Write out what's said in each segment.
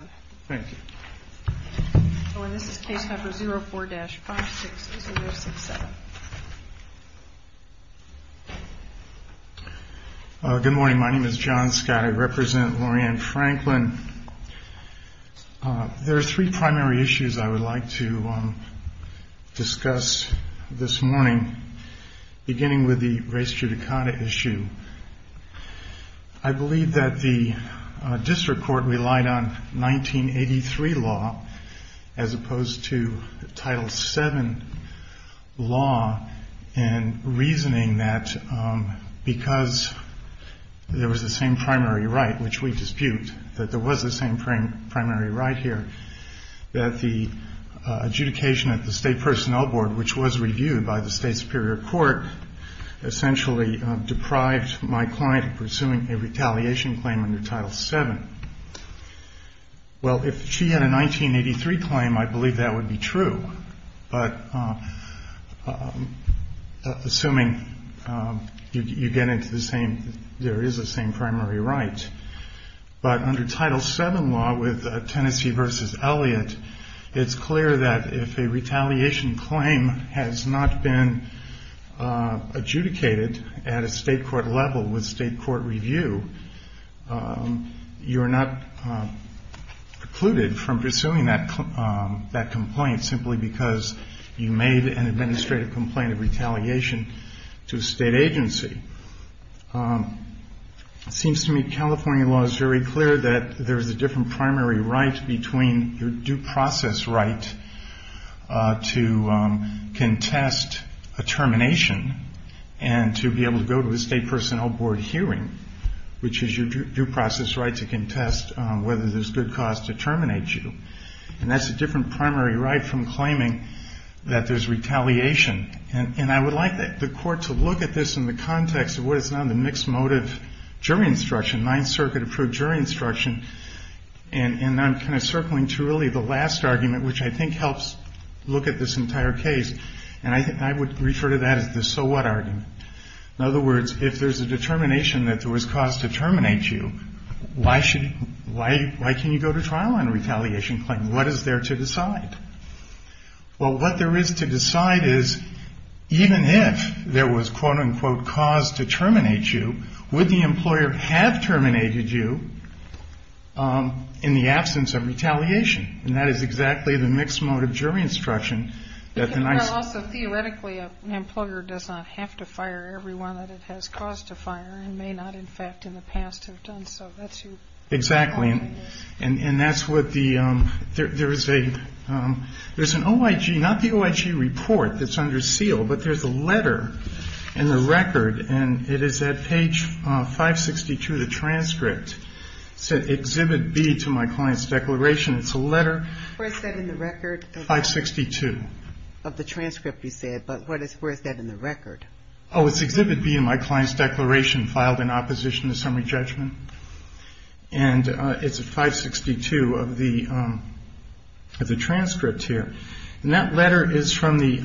Good morning. My name is John Scott. I represent Loranne Franklin. There are three primary issues I would like to discuss this morning, beginning with the race judicata issue. I want to start with the 1983 law, as opposed to the Title VII law, in reasoning that because there was the same primary right, which we dispute, that there was the same primary right here, that the adjudication at the State Personnel Board, which was reviewed by the State Superior Court, essentially deprived my client of pursuing a retaliation claim under Title VII. Well, if she had a 1983 claim, I believe that would be true, but assuming you get into the same, there is the same primary right. But under Title VII law, with Tennessee v. Elliott, it's clear that if a retaliation claim has not been adjudicated at a State court level with State court review, you are not precluded from pursuing that complaint simply because you made an administrative complaint of retaliation to a State agency. It seems to me California law is very clear that there is a different primary right between your due process right to contest a termination and to be able to go to a State Personnel Board hearing, which is your due process right to contest whether there's good cause to terminate you. And that's a different primary right from claiming that there's retaliation. And I would like the court to look at this in the context of what is now the mixed motive jury instruction, Ninth Circuit-approved jury instruction. And I'm kind of circling to really the last argument, which I think helps look at this entire case. And I would refer to that as the so what argument. In other words, if there's a determination that there was cause to terminate you, why can you go to trial on a retaliation claim? What is there to decide? Well, what there is to decide is even if there was quote unquote cause to terminate you, would the employer have terminated you in the absence of retaliation? And that is exactly the mixed motive jury instruction that the NICE- Also, theoretically, an employer does not have to fire everyone that it has cause to fire and may not, in fact, in the past have done so. That's your- Exactly. And that's what the, there is a, there's an OIG, not the OIG report that's under seal, but there's a letter in the record, and it is at page 562 of the transcript. It said, Exhibit B to my client's declaration. It's a letter- Where is that in the record? 562. Of the transcript, you said, but what is, where is that in the record? Oh, it's Exhibit B in my client's declaration filed in opposition to summary judgment. And it's at 562 of the transcript here. And that letter is from the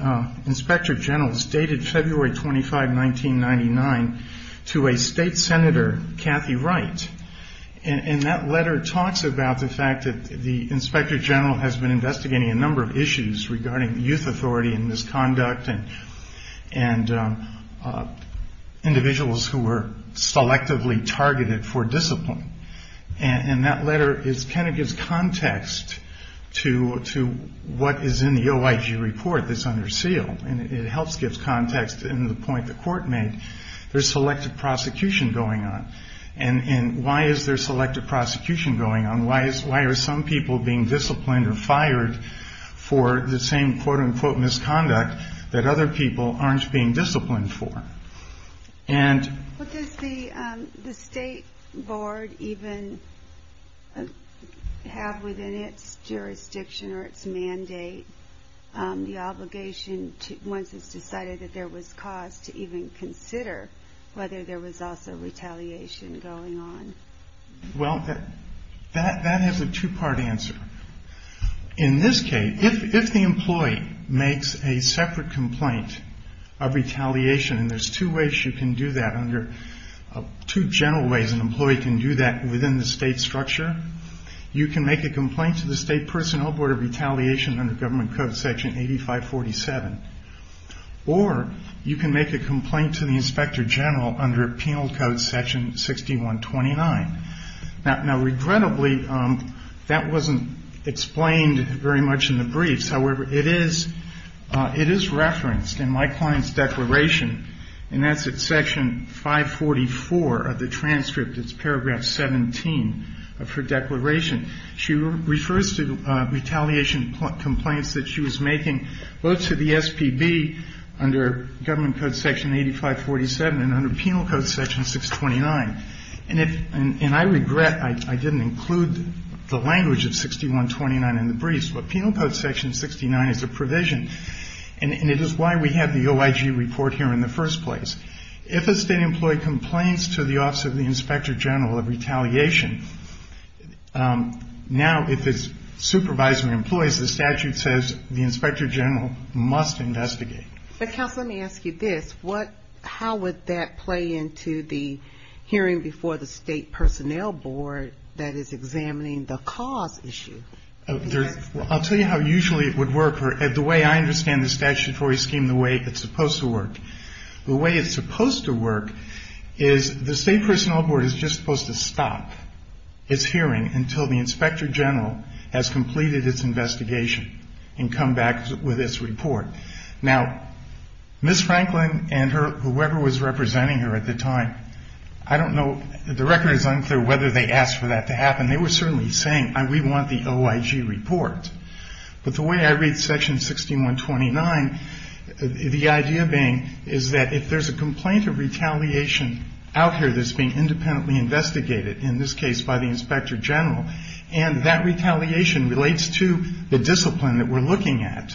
Inspector General, it's dated February 25, 1999, to a state senator, Kathy Wright. And that letter talks about the fact that the Inspector General has been investigating a number of issues regarding youth authority and misconduct and individuals who were selectively targeted for abuse. Or disciplined. And that letter is, kind of gives context to what is in the OIG report that's under seal. And it helps give context in the point the Court made. There's selective prosecution going on. And why is there selective prosecution going on? Why is, why are some people being disciplined or fired for the same quote-unquote misconduct that other people aren't being disciplined for? What does the State Board even have within its jurisdiction or its mandate, the obligation to, once it's decided that there was cause to even consider whether there was also retaliation going on? Well, that has a two-part answer. In this case, if the employee makes a separate complaint of retaliation, and there's two ways you can do that under, two general ways an employee can do that within the state structure. You can make a complaint to the State Personnel Board of Retaliation under Government Code Section 8547. Or, you can make a complaint to the Inspector General under Penal Code Section 6129. Now, regrettably, that wasn't explained very much in the briefs. However, it is, it is referenced in my client's declaration, and that's at Section 544 of the transcript. It's Paragraph 17 of her declaration. She refers to retaliation complaints that she was making, both to the SPB under Government Code Section 8547 and under Penal Code Section 629. And if, and I regret I didn't include the language of 6129 in the briefs, but Penal Code Section 629 is a provision, and it is why we have the OIG report here in the first place. If a state employee complains to the Office of the Inspector General of Retaliation, now if his supervisor employs, the statute says the Inspector General must investigate. But, Counsel, let me ask you this. What, how would that play into the hearing before the State Personnel Board that is examining the cause issue? There's, I'll tell you how usually it would work. The way I understand the statutory scheme, the way it's supposed to work. The way it's supposed to work is the State Personnel Board is just supposed to stop its hearing until the Inspector General has completed its investigation and come back with its report. Now, Ms. Franklin and her, whoever was representing her at the time, I don't know, the record is unclear whether they asked for that to happen. They were certainly saying, we want the OIG report. But the way I read Section 6129, the idea being is that if there's a complaint of retaliation out here that's being independently investigated, in this case by the Inspector General, and that retaliation relates to the discipline that we're looking at,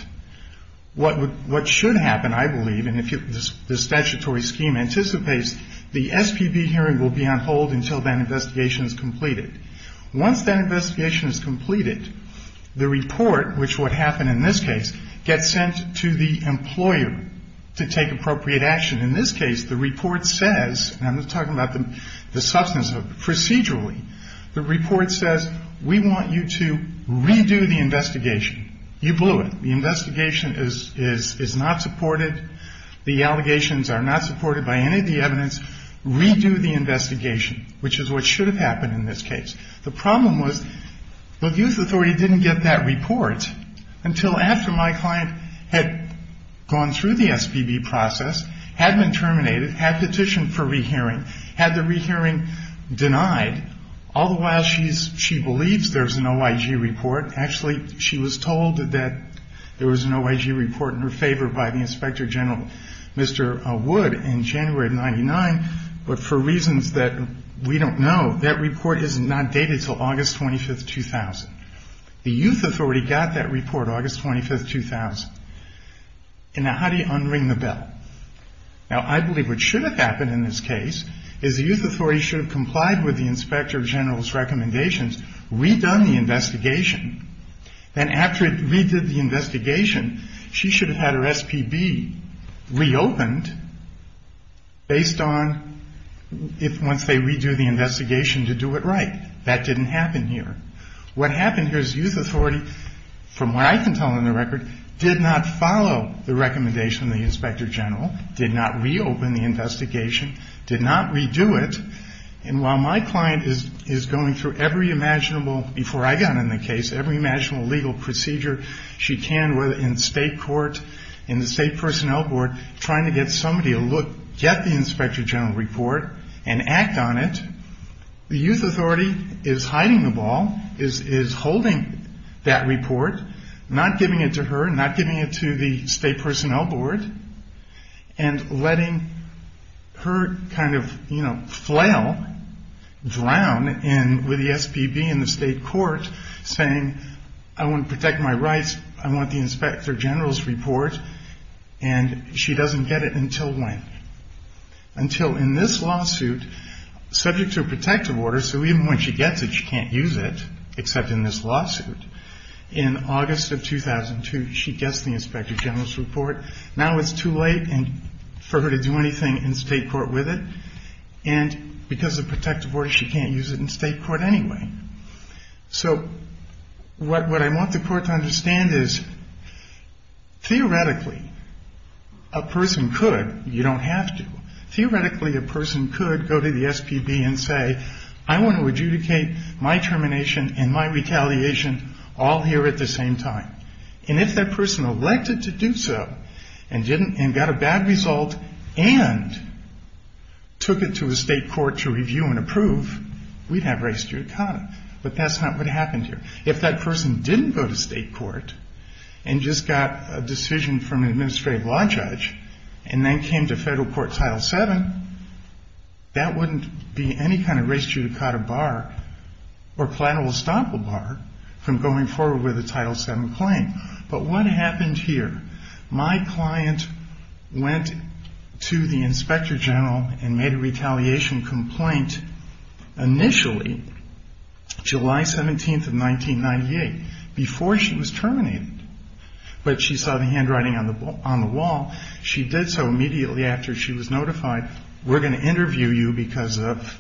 what should happen, I believe, and if the statutory scheme anticipates, the SPB hearing will be on hold until that investigation is completed. Once that investigation is completed, the report, which would happen in this case, gets sent to the employer to take appropriate action. In this case, the report says, and I'm talking about the substance of it, procedurally, the report says, we want you to redo the investigation. You blew it. The investigation is not supported. The allegations are not supported by any of the evidence. Redo the investigation, which is what should have happened in this case. The problem was the youth authority didn't get that report until after my client had gone through the SPB process, had been terminated, had petitioned for rehearing, had the rehearing denied. All the while, she believes there's an OIG report. Actually, she was told that there was an OIG report in her favor by the Inspector General, Mr. Wood, in January of 1999, but for reasons that we don't know, that report is not dated until August 25th, 2000. The youth authority got that report August 25th, 2000. Now, how do you unring the bell? Now, I believe what should have happened in this case is the youth authority should have complied with the Inspector General's recommendations, redone the investigation, and after it redid the investigation, she should have had her SPB reopened based on once they redo the investigation to do it right. That didn't happen here. What happened here is the youth authority, from what I can tell on the record, did not follow the recommendation from the Inspector General, did not reopen the investigation, did not redo it, and while my client is going through every imaginable, before I got in the case, every imaginable legal procedure she can, whether in state court, in the state personnel board, trying to get somebody to look, get the Inspector General report, and act on it, the youth authority is hiding the ball, is holding that report, not giving it to her, not giving it to the board, and letting her kind of, you know, flail, drown with the SPB in the state court saying I want to protect my rights, I want the Inspector General's report, and she doesn't get it until when? Until in this lawsuit, subject to a protective order, so even when she gets it, she can't use it, except in this lawsuit. In August of 2002, she gets the Inspector General's report, now it's too late for her to do anything in state court with it, and because of protective order, she can't use it in state court anyway. So what I want the court to understand is, theoretically, a person could, you don't have to, theoretically a person could go to the SPB and say I want to adjudicate my termination and my retaliation all here at the same time, and if that person elected to do so, and didn't, and got a bad result, and took it to a state court to review and approve, we'd have res judicata, but that's not what happened here. If that person didn't go to state court, and just got a decision from an administrative law judge, and then came to federal court title 7, that wouldn't be any kind of res judicata bar, or plannable estoppel bar, from going forward with a title 7 claim. But what happened here? My client went to the Inspector General and made a retaliation complaint initially, July 17th of 1998, before she was terminated, but she saw the handwriting on the wall. She did so immediately after she was notified, we're going to interview you because of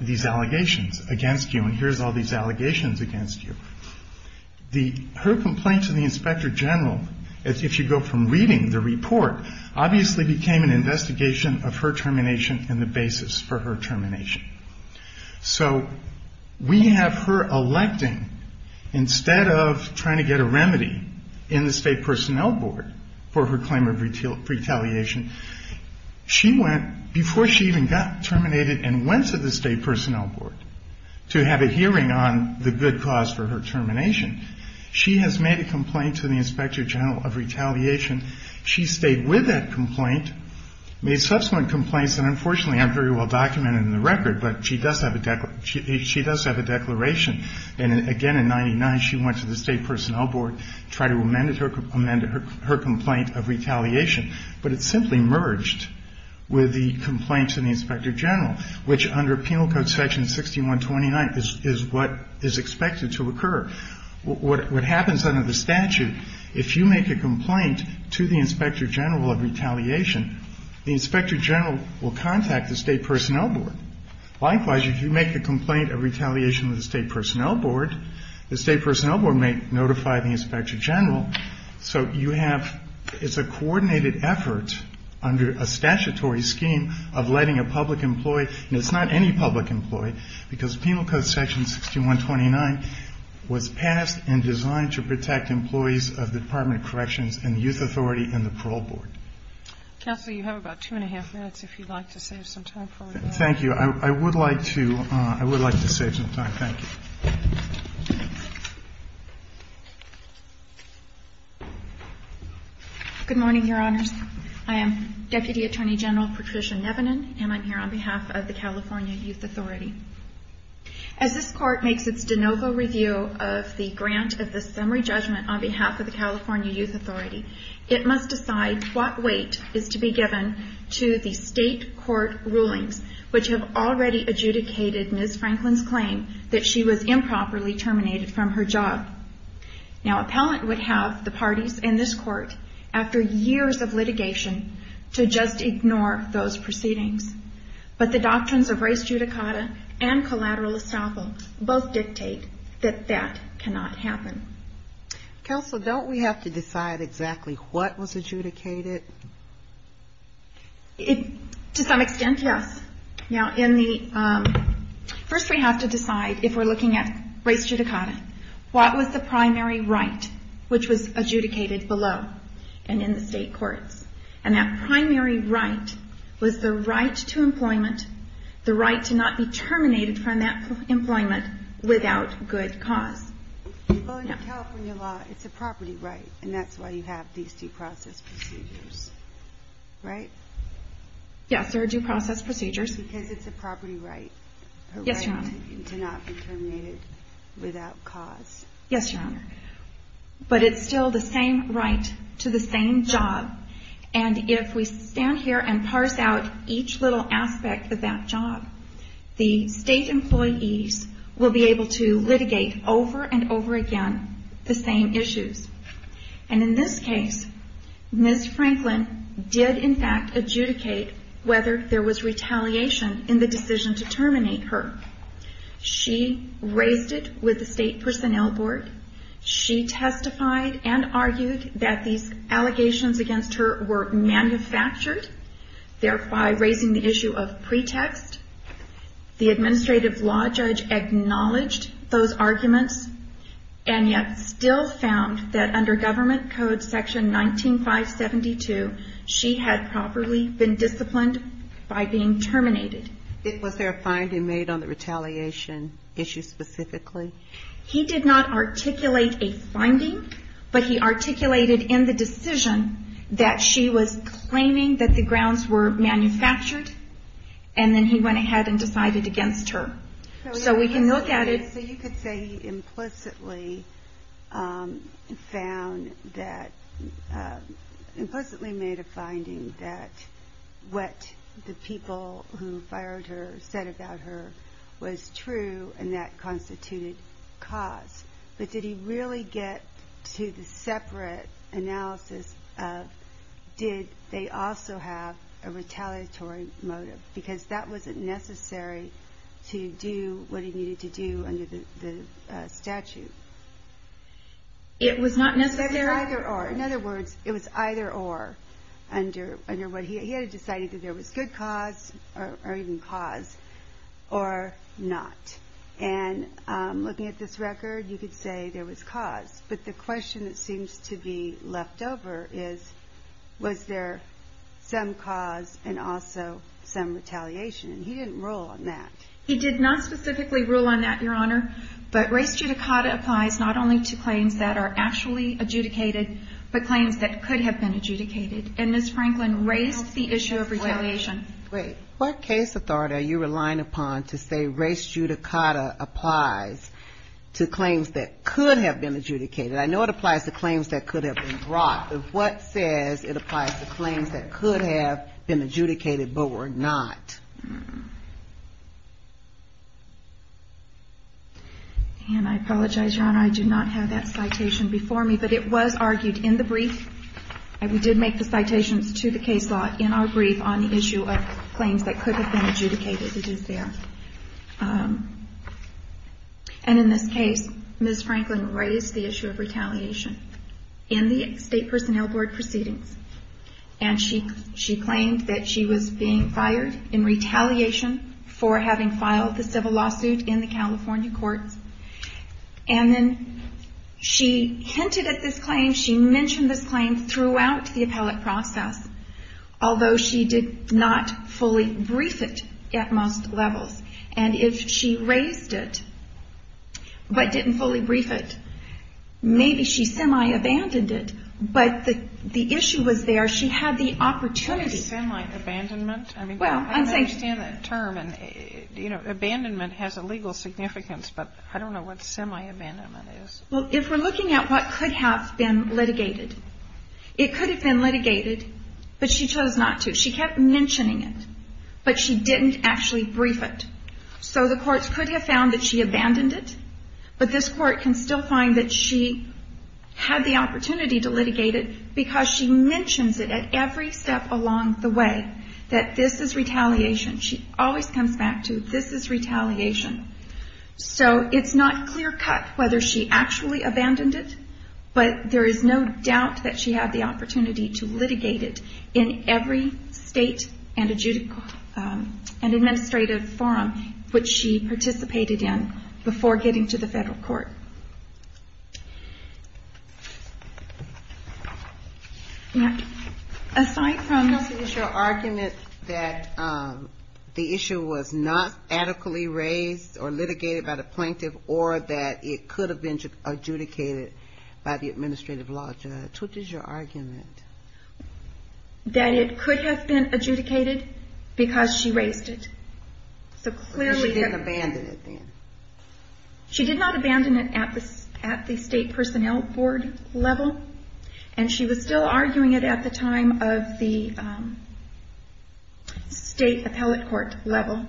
these allegations against you, and here's all these allegations against you. Her complaint to the Inspector General, if you go from reading the report, obviously became an investigation of her termination and the basis for her termination. So we have her electing, instead of trying to get a remedy in the state personnel board for her claim of retaliation, she went, before she even got terminated, and went to the state personnel board to have a hearing on the good cause for her termination. She has made a complaint to the Inspector General of retaliation. She stayed with that complaint, made subsequent complaints, and unfortunately aren't very well documented in the record, but she does have a declaration. And again in 1999, she went to the state personnel board, tried to make a complaint of retaliation, but it simply merged with the complaint to the Inspector General, which under Penal Code section 6129 is what is expected to occur. What happens under the statute, if you make a complaint to the Inspector General of retaliation, the Inspector General will contact the state personnel board. Likewise, if you make a complaint of retaliation to the state personnel board, the state personnel board may notify the Inspector General. So you have, it's a coordinated effort under a statutory scheme of letting a public employee, and it's not any public employee, because Penal Code section 6129 was passed and designed to protect employees of the Department of Corrections and the Youth Authority and the Parole Board. Counsel, you have about two and a half minutes, if you'd like to save some time for it. Thank you. I would like to, I would like to save some time. Thank you. Good morning, Your Honors. I am Deputy Attorney General Patricia Nevinen, and I'm here on behalf of the California Youth Authority. As this Court makes its de novo review of the grant of the summary judgment on behalf of the California Youth Authority, it must decide what weight is to be given to the state court rulings, which have already adjudicated Ms. Franklin's claim that she was improperly terminated from her job. Now, appellant would have the parties in this Court, after years of litigation, to just ignore those proceedings. But the doctrines of res judicata and collateral estoppel both dictate that that cannot happen. Counsel, don't we have to decide exactly what was adjudicated? To some extent, yes. Now, in the, first we have to decide, if we're looking at res judicata, what was the primary right which was adjudicated below and in the state courts? And that primary right was the right to employment, the right to not be terminated from that employment without good cause. Well, in California law, it's a property right, and that's why you have these due process procedures, right? Yes, there are due process procedures. Because it's a property right. Yes, Your Honor. A right to not be terminated without cause. Yes, Your Honor. But it's still the same right to the same job, and if we stand here and parse out each little aspect of that job, the state employees will be able to litigate over and over again the same issues. And in this case, Ms. Franklin did in fact adjudicate whether there was retaliation in the decision to terminate her. She raised it with the State Personnel Board. She testified and argued that these allegations against her were manufactured, thereby raising the issue of pretext. The administrative law judge acknowledged those arguments and yet still found that under Government Code Section 19572, she had properly been disciplined by being terminated. Was there a finding made on the retaliation issue specifically? He did not articulate a finding, but he articulated in the decision that she was claiming that the grounds were manufactured, and then he went ahead and decided against her. So we can look at it. So you could say he implicitly found that, implicitly made a finding that what the people who fired her said about her was true, and that constituted cause. But did he really get to the separate analysis of did they also have a retaliatory motive? Because that wasn't necessary to do what he needed to do under the statute. It was not necessary? It was either or. In other words, it was either or under what he had decided that there was good cause, or even cause, or not. And looking at this record, you could say there was cause. But the question that seems to be left over is, was there some cause and also some retaliation? And he didn't rule on that. He did not specifically rule on that, Your Honor. But res judicata applies not only to claims that are actually adjudicated, but claims that could have been adjudicated. And Ms. Franklin raised the issue of retaliation. What case authority are you relying upon to say res judicata applies to claims that could have been adjudicated? I know it applies to claims that could have been brought. But what says it applies to claims that could have been adjudicated but were not? And I apologize, Your Honor. I do not have that citation before me. But it was argued in the brief. We did make the citations to the case law in our brief on the issue of claims that could have been adjudicated. It is there. And in this case, Ms. Franklin raised the issue of retaliation in the State Personnel Board proceedings. And she claimed that she was being fired in retaliation for having filed the civil lawsuit in the California courts. And then she hinted at this claim. She mentioned this claim throughout the appellate process, although she did not fully brief it at most levels. And if she raised it but didn't fully brief it, maybe she semi-abandoned it. But the issue was there. She had the opportunity. That is semi-abandonment? I mean, I don't understand that term. And, you know, abandonment has a legal significance, but I don't know what semi-abandonment is. Well, if we're looking at what could have been litigated, it could have been litigated, but she chose not to. She kept mentioning it, but she didn't actually brief it. So the courts could have found that she abandoned it, but this Court can still find that she had the opportunity to litigate it because she mentions it at every step along the way, that this is retaliation. She always comes back to, this is retaliation. So it's not clear-cut whether she actually abandoned it, but there is no doubt that she had the opportunity to litigate it in every state and administrative forum which she participated in before getting to the federal court. Yes. Aside from the issue of argument that the issue was not adequately raised or litigated by the plaintiff, or that it could have been adjudicated by the administrative law judge, what is your argument? That it could have been adjudicated because she raised it. So clearly- She didn't abandon it then. She did not abandon it at the state personnel board level, and she was still arguing it at the time of the state appellate court level,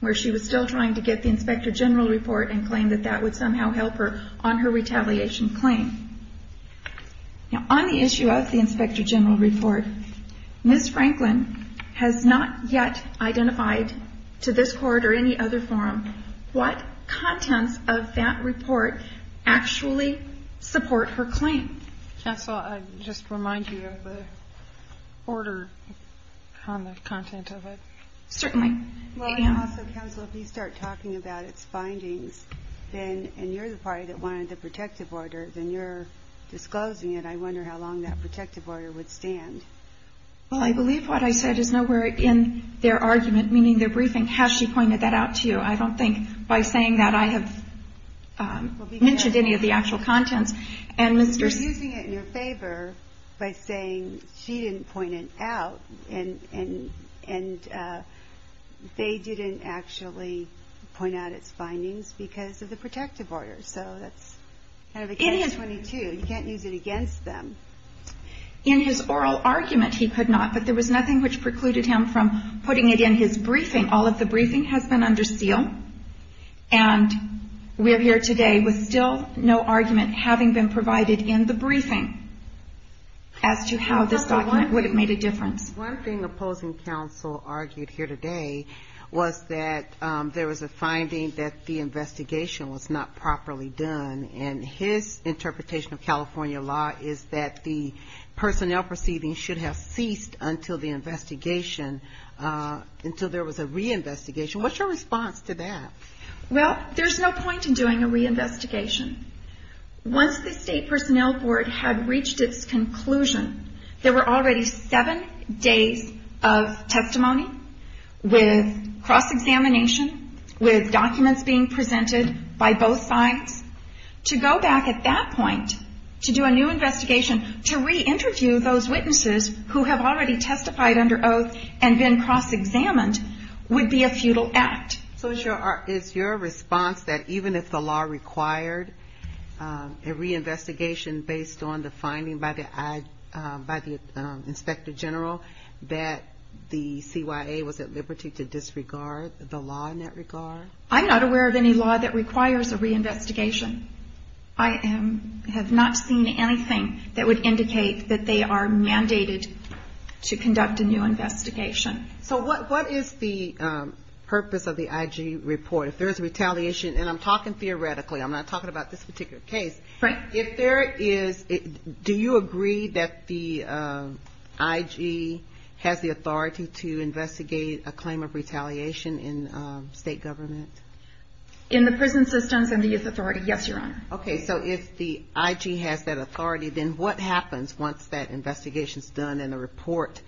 where she was still trying to get the Inspector General report and claim that that would somehow help her on her retaliation claim. Now, on the issue of the Inspector General report, Ms. Franklin has not yet identified to this Court or any other forum what contents of that report actually support her claim. Counsel, I just remind you of the order on the content of it. Certainly. Well, and also, Counsel, if you start talking about its findings, then, and you're the party that wanted the protective order, then you're disclosing it. I wonder how long that protective order would stand. Well, I believe what I said is nowhere in their argument, meaning their briefing, how she pointed that out to you. I don't think by saying that I have mentioned any of the actual contents, and Mrs.- You're using it in your favor by saying she didn't point it out, and Ms. Franklin they didn't actually point out its findings because of the protective order. So that's kind of against- It is. You can't use it against them. In his oral argument, he could not, but there was nothing which precluded him from putting it in his briefing. All of the briefing has been under seal, and we're here today with still no argument having been provided in the briefing as to how this document would have made a difference. One thing opposing counsel argued here today was that there was a finding that the investigation was not properly done, and his interpretation of California law is that the personnel proceedings should have ceased until the investigation, until there was a reinvestigation. What's your response to that? Well, there's no point in doing a reinvestigation. Once the State Personnel Board had reached its conclusion, there were already seven days of testimony with cross-examination, with documents being presented by both sides. To go back at that point to do a new investigation, to re-interview those witnesses who have already testified under oath and been cross-examined would be a futile act. So is your response that even if the law required a reinvestigation based on the findings of the IG report by the Inspector General, that the CYA was at liberty to disregard the law in that regard? I'm not aware of any law that requires a reinvestigation. I have not seen anything that would indicate that they are mandated to conduct a new investigation. So what is the purpose of the IG report? If there is retaliation, and I'm talking theoretically, I'm not talking about this particular case. Do you agree that the IG has the authority to investigate a claim of retaliation in state government? In the prison systems and the youth authority, yes, Your Honor. Okay, so if the IG has that authority, then what happens once that investigation is done and the report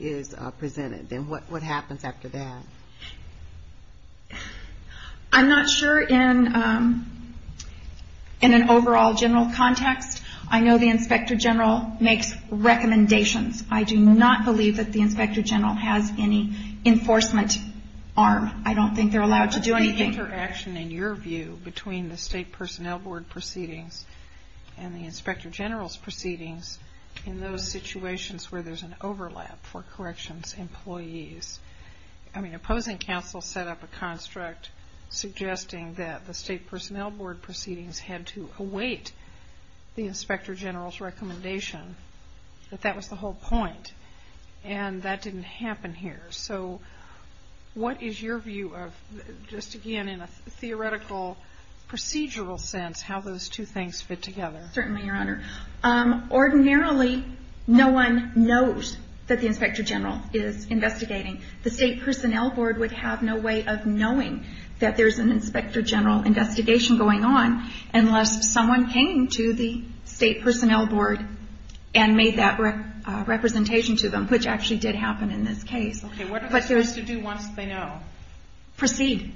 is presented? Then what happens after that? I'm not sure in an overall general context. I know the Inspector General makes recommendations. I do not believe that the Inspector General has any enforcement arm. I don't think they're allowed to do anything. But the interaction, in your view, between the State Personnel Board proceedings and the Inspector General's proceedings in those situations where there's an overlap for corrections employees, I mean, opposing counsel set up a construct suggesting that the State Personnel Board proceedings had to await the Inspector General's recommendation, that that was the whole point. And that didn't happen here. So what is your view of, just again in a theoretical procedural sense, how those two things fit together? Certainly, Your Honor. Ordinarily, no one knows that the Inspector General is investigating. The State Personnel Board would have no way of knowing that there's an Inspector General investigation going on unless someone came to the State Personnel Board and made that representation to them, which actually did happen in this case. Okay, what are they supposed to do once they know? Proceed.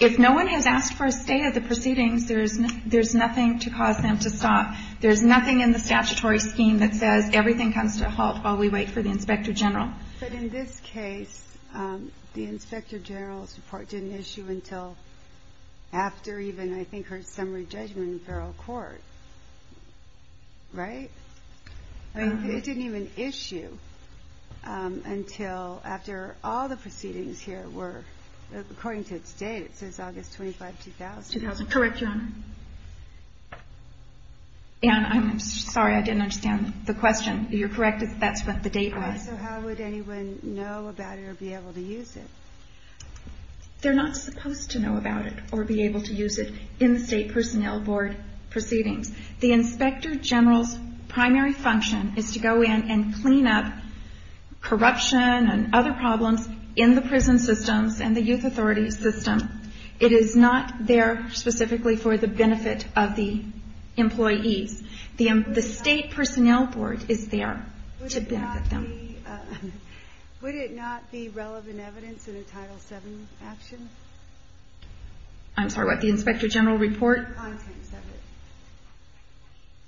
If no one has asked for a stay of the proceedings, there's nothing to cause them to stop. There's nothing in the statutory scheme that says everything comes to a halt while we wait for the Inspector General. But in this case, the Inspector General's report didn't issue until after even, I think, her summary judgment in feral court, right? It didn't even issue until after all the proceedings here were, according to its date, it says August 25, 2000. Correct, Your Honor. And I'm sorry, I didn't understand the question. You're correct, that's what the date was. So how would anyone know about it or be able to use it? They're not supposed to know about it or be able to use it in State Personnel Board proceedings. The Inspector General's primary function is to go in and clean up corruption and other problems in the prison systems and the youth authority system. It is not there specifically for the benefit of the employees. The State Personnel Board is there to benefit them. Would it not be relevant evidence in a Title VII action? I'm sorry, what, the Inspector General report?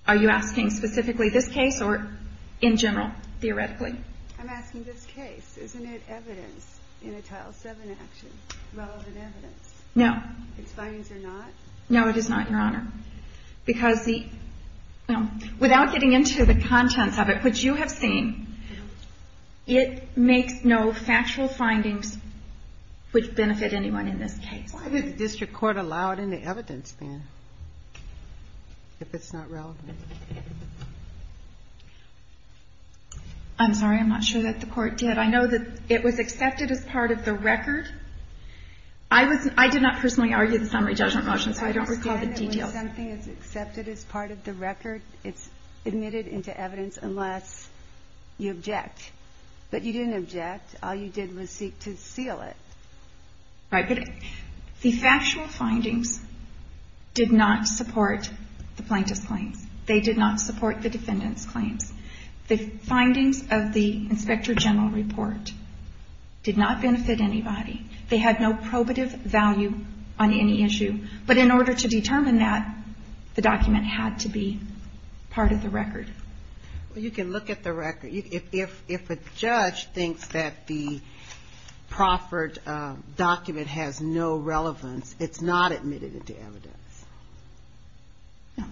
Are you asking specifically this case or in general, theoretically? I'm asking this case. Isn't it evidence in a Title VII action, relevant evidence? No. Its findings are not? No, it is not, Your Honor, because the – well, without getting into the contents of it, which you have seen, it makes no factual findings which benefit anyone in this case. Why would the district court allow it in the evidence, then, if it's not relevant? I'm sorry, I'm not sure that the court did. I know that it was accepted as part of the record. It's admitted into evidence unless you object. But you didn't object. All you did was seek to seal it. Right, but the factual findings did not support the plaintiff's claims. They did not support the defendant's claims. The findings of the Inspector General report did not benefit anybody. They had no probative value on any issue. But in order to determine that, the document had to be part of the record. Well, you can look at the record. If a judge thinks that the proffered document has no relevance, it's not admitted into evidence. No.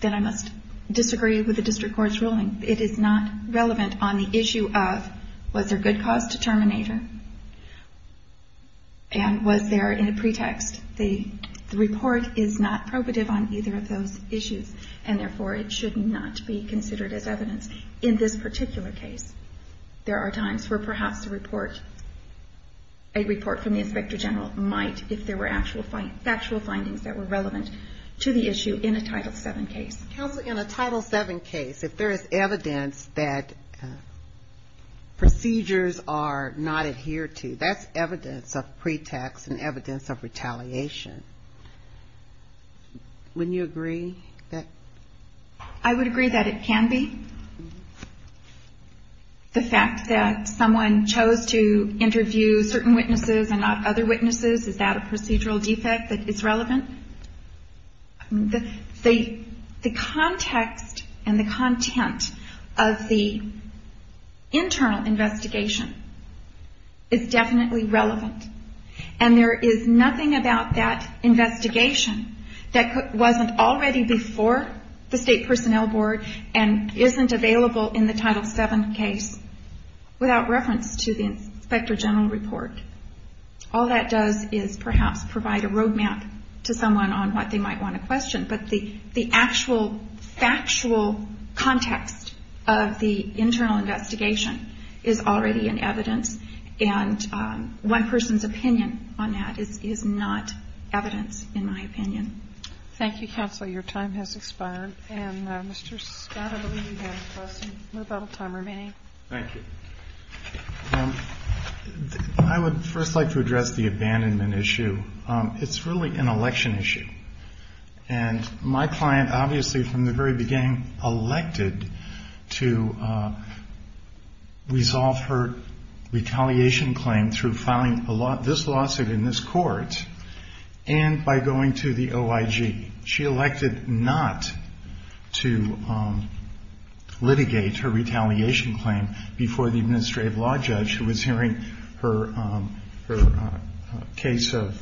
Then I must disagree with the district court's ruling. It is not relevant on the record. And was there a pretext? The report is not probative on either of those issues. And therefore, it should not be considered as evidence. In this particular case, there are times where perhaps a report from the Inspector General might, if there were factual findings that were relevant to the issue in a Title VII case. Counsel, in a Title VII case, if there is evidence that procedures are not adhered to, that's evidence of pretext and evidence of retaliation. Wouldn't you agree that? I would agree that it can be. The fact that someone chose to interview certain witnesses and not other witnesses, is that a procedural defect that is relevant? The counsel and the content of the internal investigation is definitely relevant. And there is nothing about that investigation that wasn't already before the State Personnel Board and isn't available in the Title VII case without reference to the Inspector General report. All that does is perhaps provide a road map to someone on what they might want to question. But the actual factual context of the internal investigation is already in evidence. And one person's opinion on that is not evidence, in my opinion. Thank you, Counsel. Your time has expired. And, Mr. Scott, I believe you had a question. We have about a time remaining. Thank you. I would first like to address the abandonment issue. It's really an election issue. And my client obviously from the very beginning elected to resolve her retaliation claim through filing this lawsuit in this court and by going to the OIG. She elected not to litigate her retaliation claim before the administrative law judge who was hearing her case of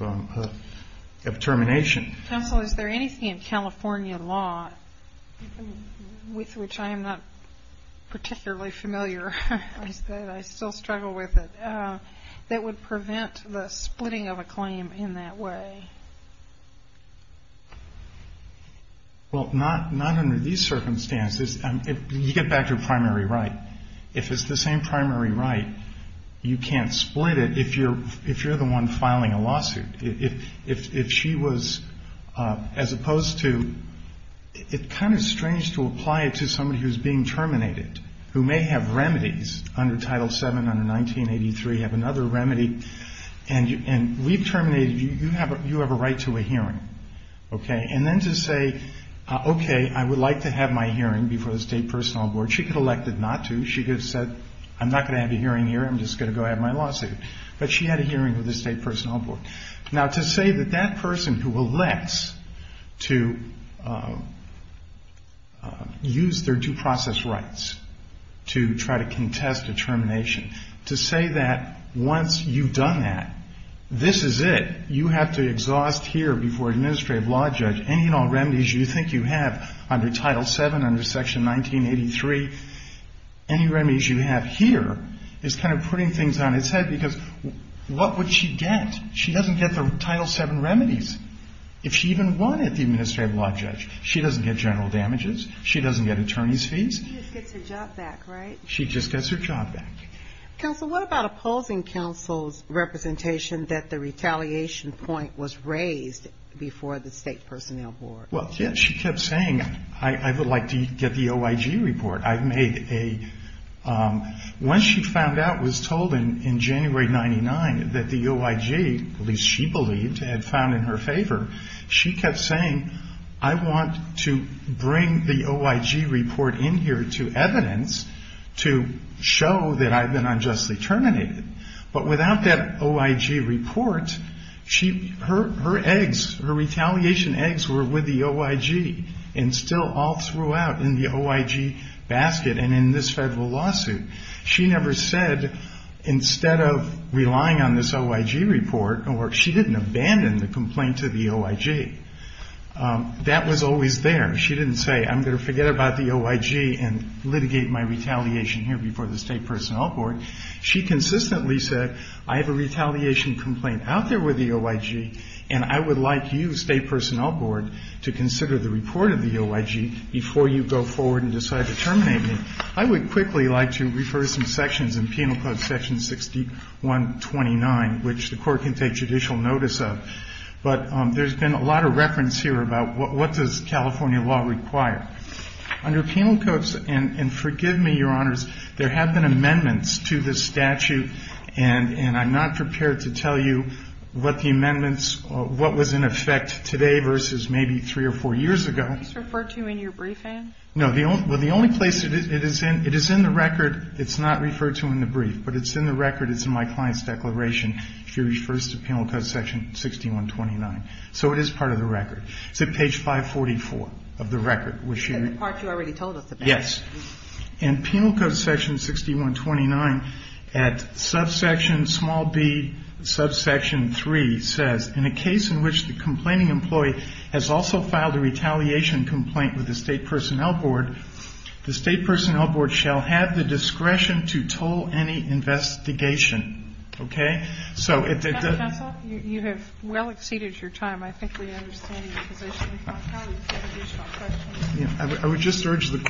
termination. Counsel, is there anything in California law, with which I am not particularly familiar, I still struggle with it, that would prevent the splitting of a claim in that way? Well, not under these circumstances. You get back to primary right. If it's the same primary right, you can't split it if you're the one filing a lawsuit. If she was, as opposed to, it's kind of strange to apply it to somebody who's being terminated, who may have remedies under Title VII, under 1983, have another remedy. And we've terminated, you have a right to a hearing. Okay? And then to say, okay, I would like to have my hearing before the State Personal Board. She could have elected not to. She could have said, I'm not going to have a hearing here, I'm just going to go have my lawsuit. But she had a hearing with the State Personal Board. Now, to say that that person who elects to use their due process rights to try to contest a termination, to say that once you've done that, this is it, you have to exhaust here before an administrative law judge any and all remedies you think you have under Title VII, under Section 1983. Any remedies you have here is kind of putting things on its head, because what would she get? She doesn't get the Title VII remedies. If she even won at the administrative law judge, she doesn't get general damages, she doesn't get attorney's fees. She just gets her job back, right? She just gets her job back. Counsel, what about opposing counsel's representation that the retaliation point was raised before the State Personnel Board? She kept saying, I would like to get the OIG report. Once she found out, was told in January 1999 that the OIG, at least she believed, had found in her favor, she kept saying, I want to bring the OIG report in here to evidence to show that I've been unjustly terminated. But without that OIG report, her eggs, her retaliation eggs were with the OIG. And still all throughout in the OIG basket and in this federal lawsuit. She never said, instead of relying on this OIG report, she didn't abandon the complaint to the OIG. That was always there. She didn't say, I'm going to forget about the OIG and litigate my retaliation here before the State Personnel Board. She consistently said, I have a retaliation complaint out there with the OIG, and I would like you, State Personnel Board, to consider the report of the OIG before you go forward and decide to terminate me. I would quickly like to refer some sections in Penal Code Section 6129, which the Court can take judicial notice of. But there's been a lot of reference here about what does California law require. Under penal codes, and forgive me, Your Honors, there have been amendments to this statute, and I'm not prepared to tell you what the amendments, what was in effect today versus maybe three or four years ago. It's referred to in your briefing? No. The only place it is in, it is in the record. It's not referred to in the brief. But it's in the record. It's in my client's declaration. She refers to Penal Code Section 6129. So it is part of the record. It's at page 544 of the record, which you are The part you already told us about. Yes. And Penal Code Section 6129, at subsection small b, subsection 3, says, In a case in which the complaining employee has also filed a retaliation complaint with the State Personnel Board, the State Personnel Board shall have the discretion to toll any investigation. Okay? You have well exceeded your time. I think we understand your position. I would just urge the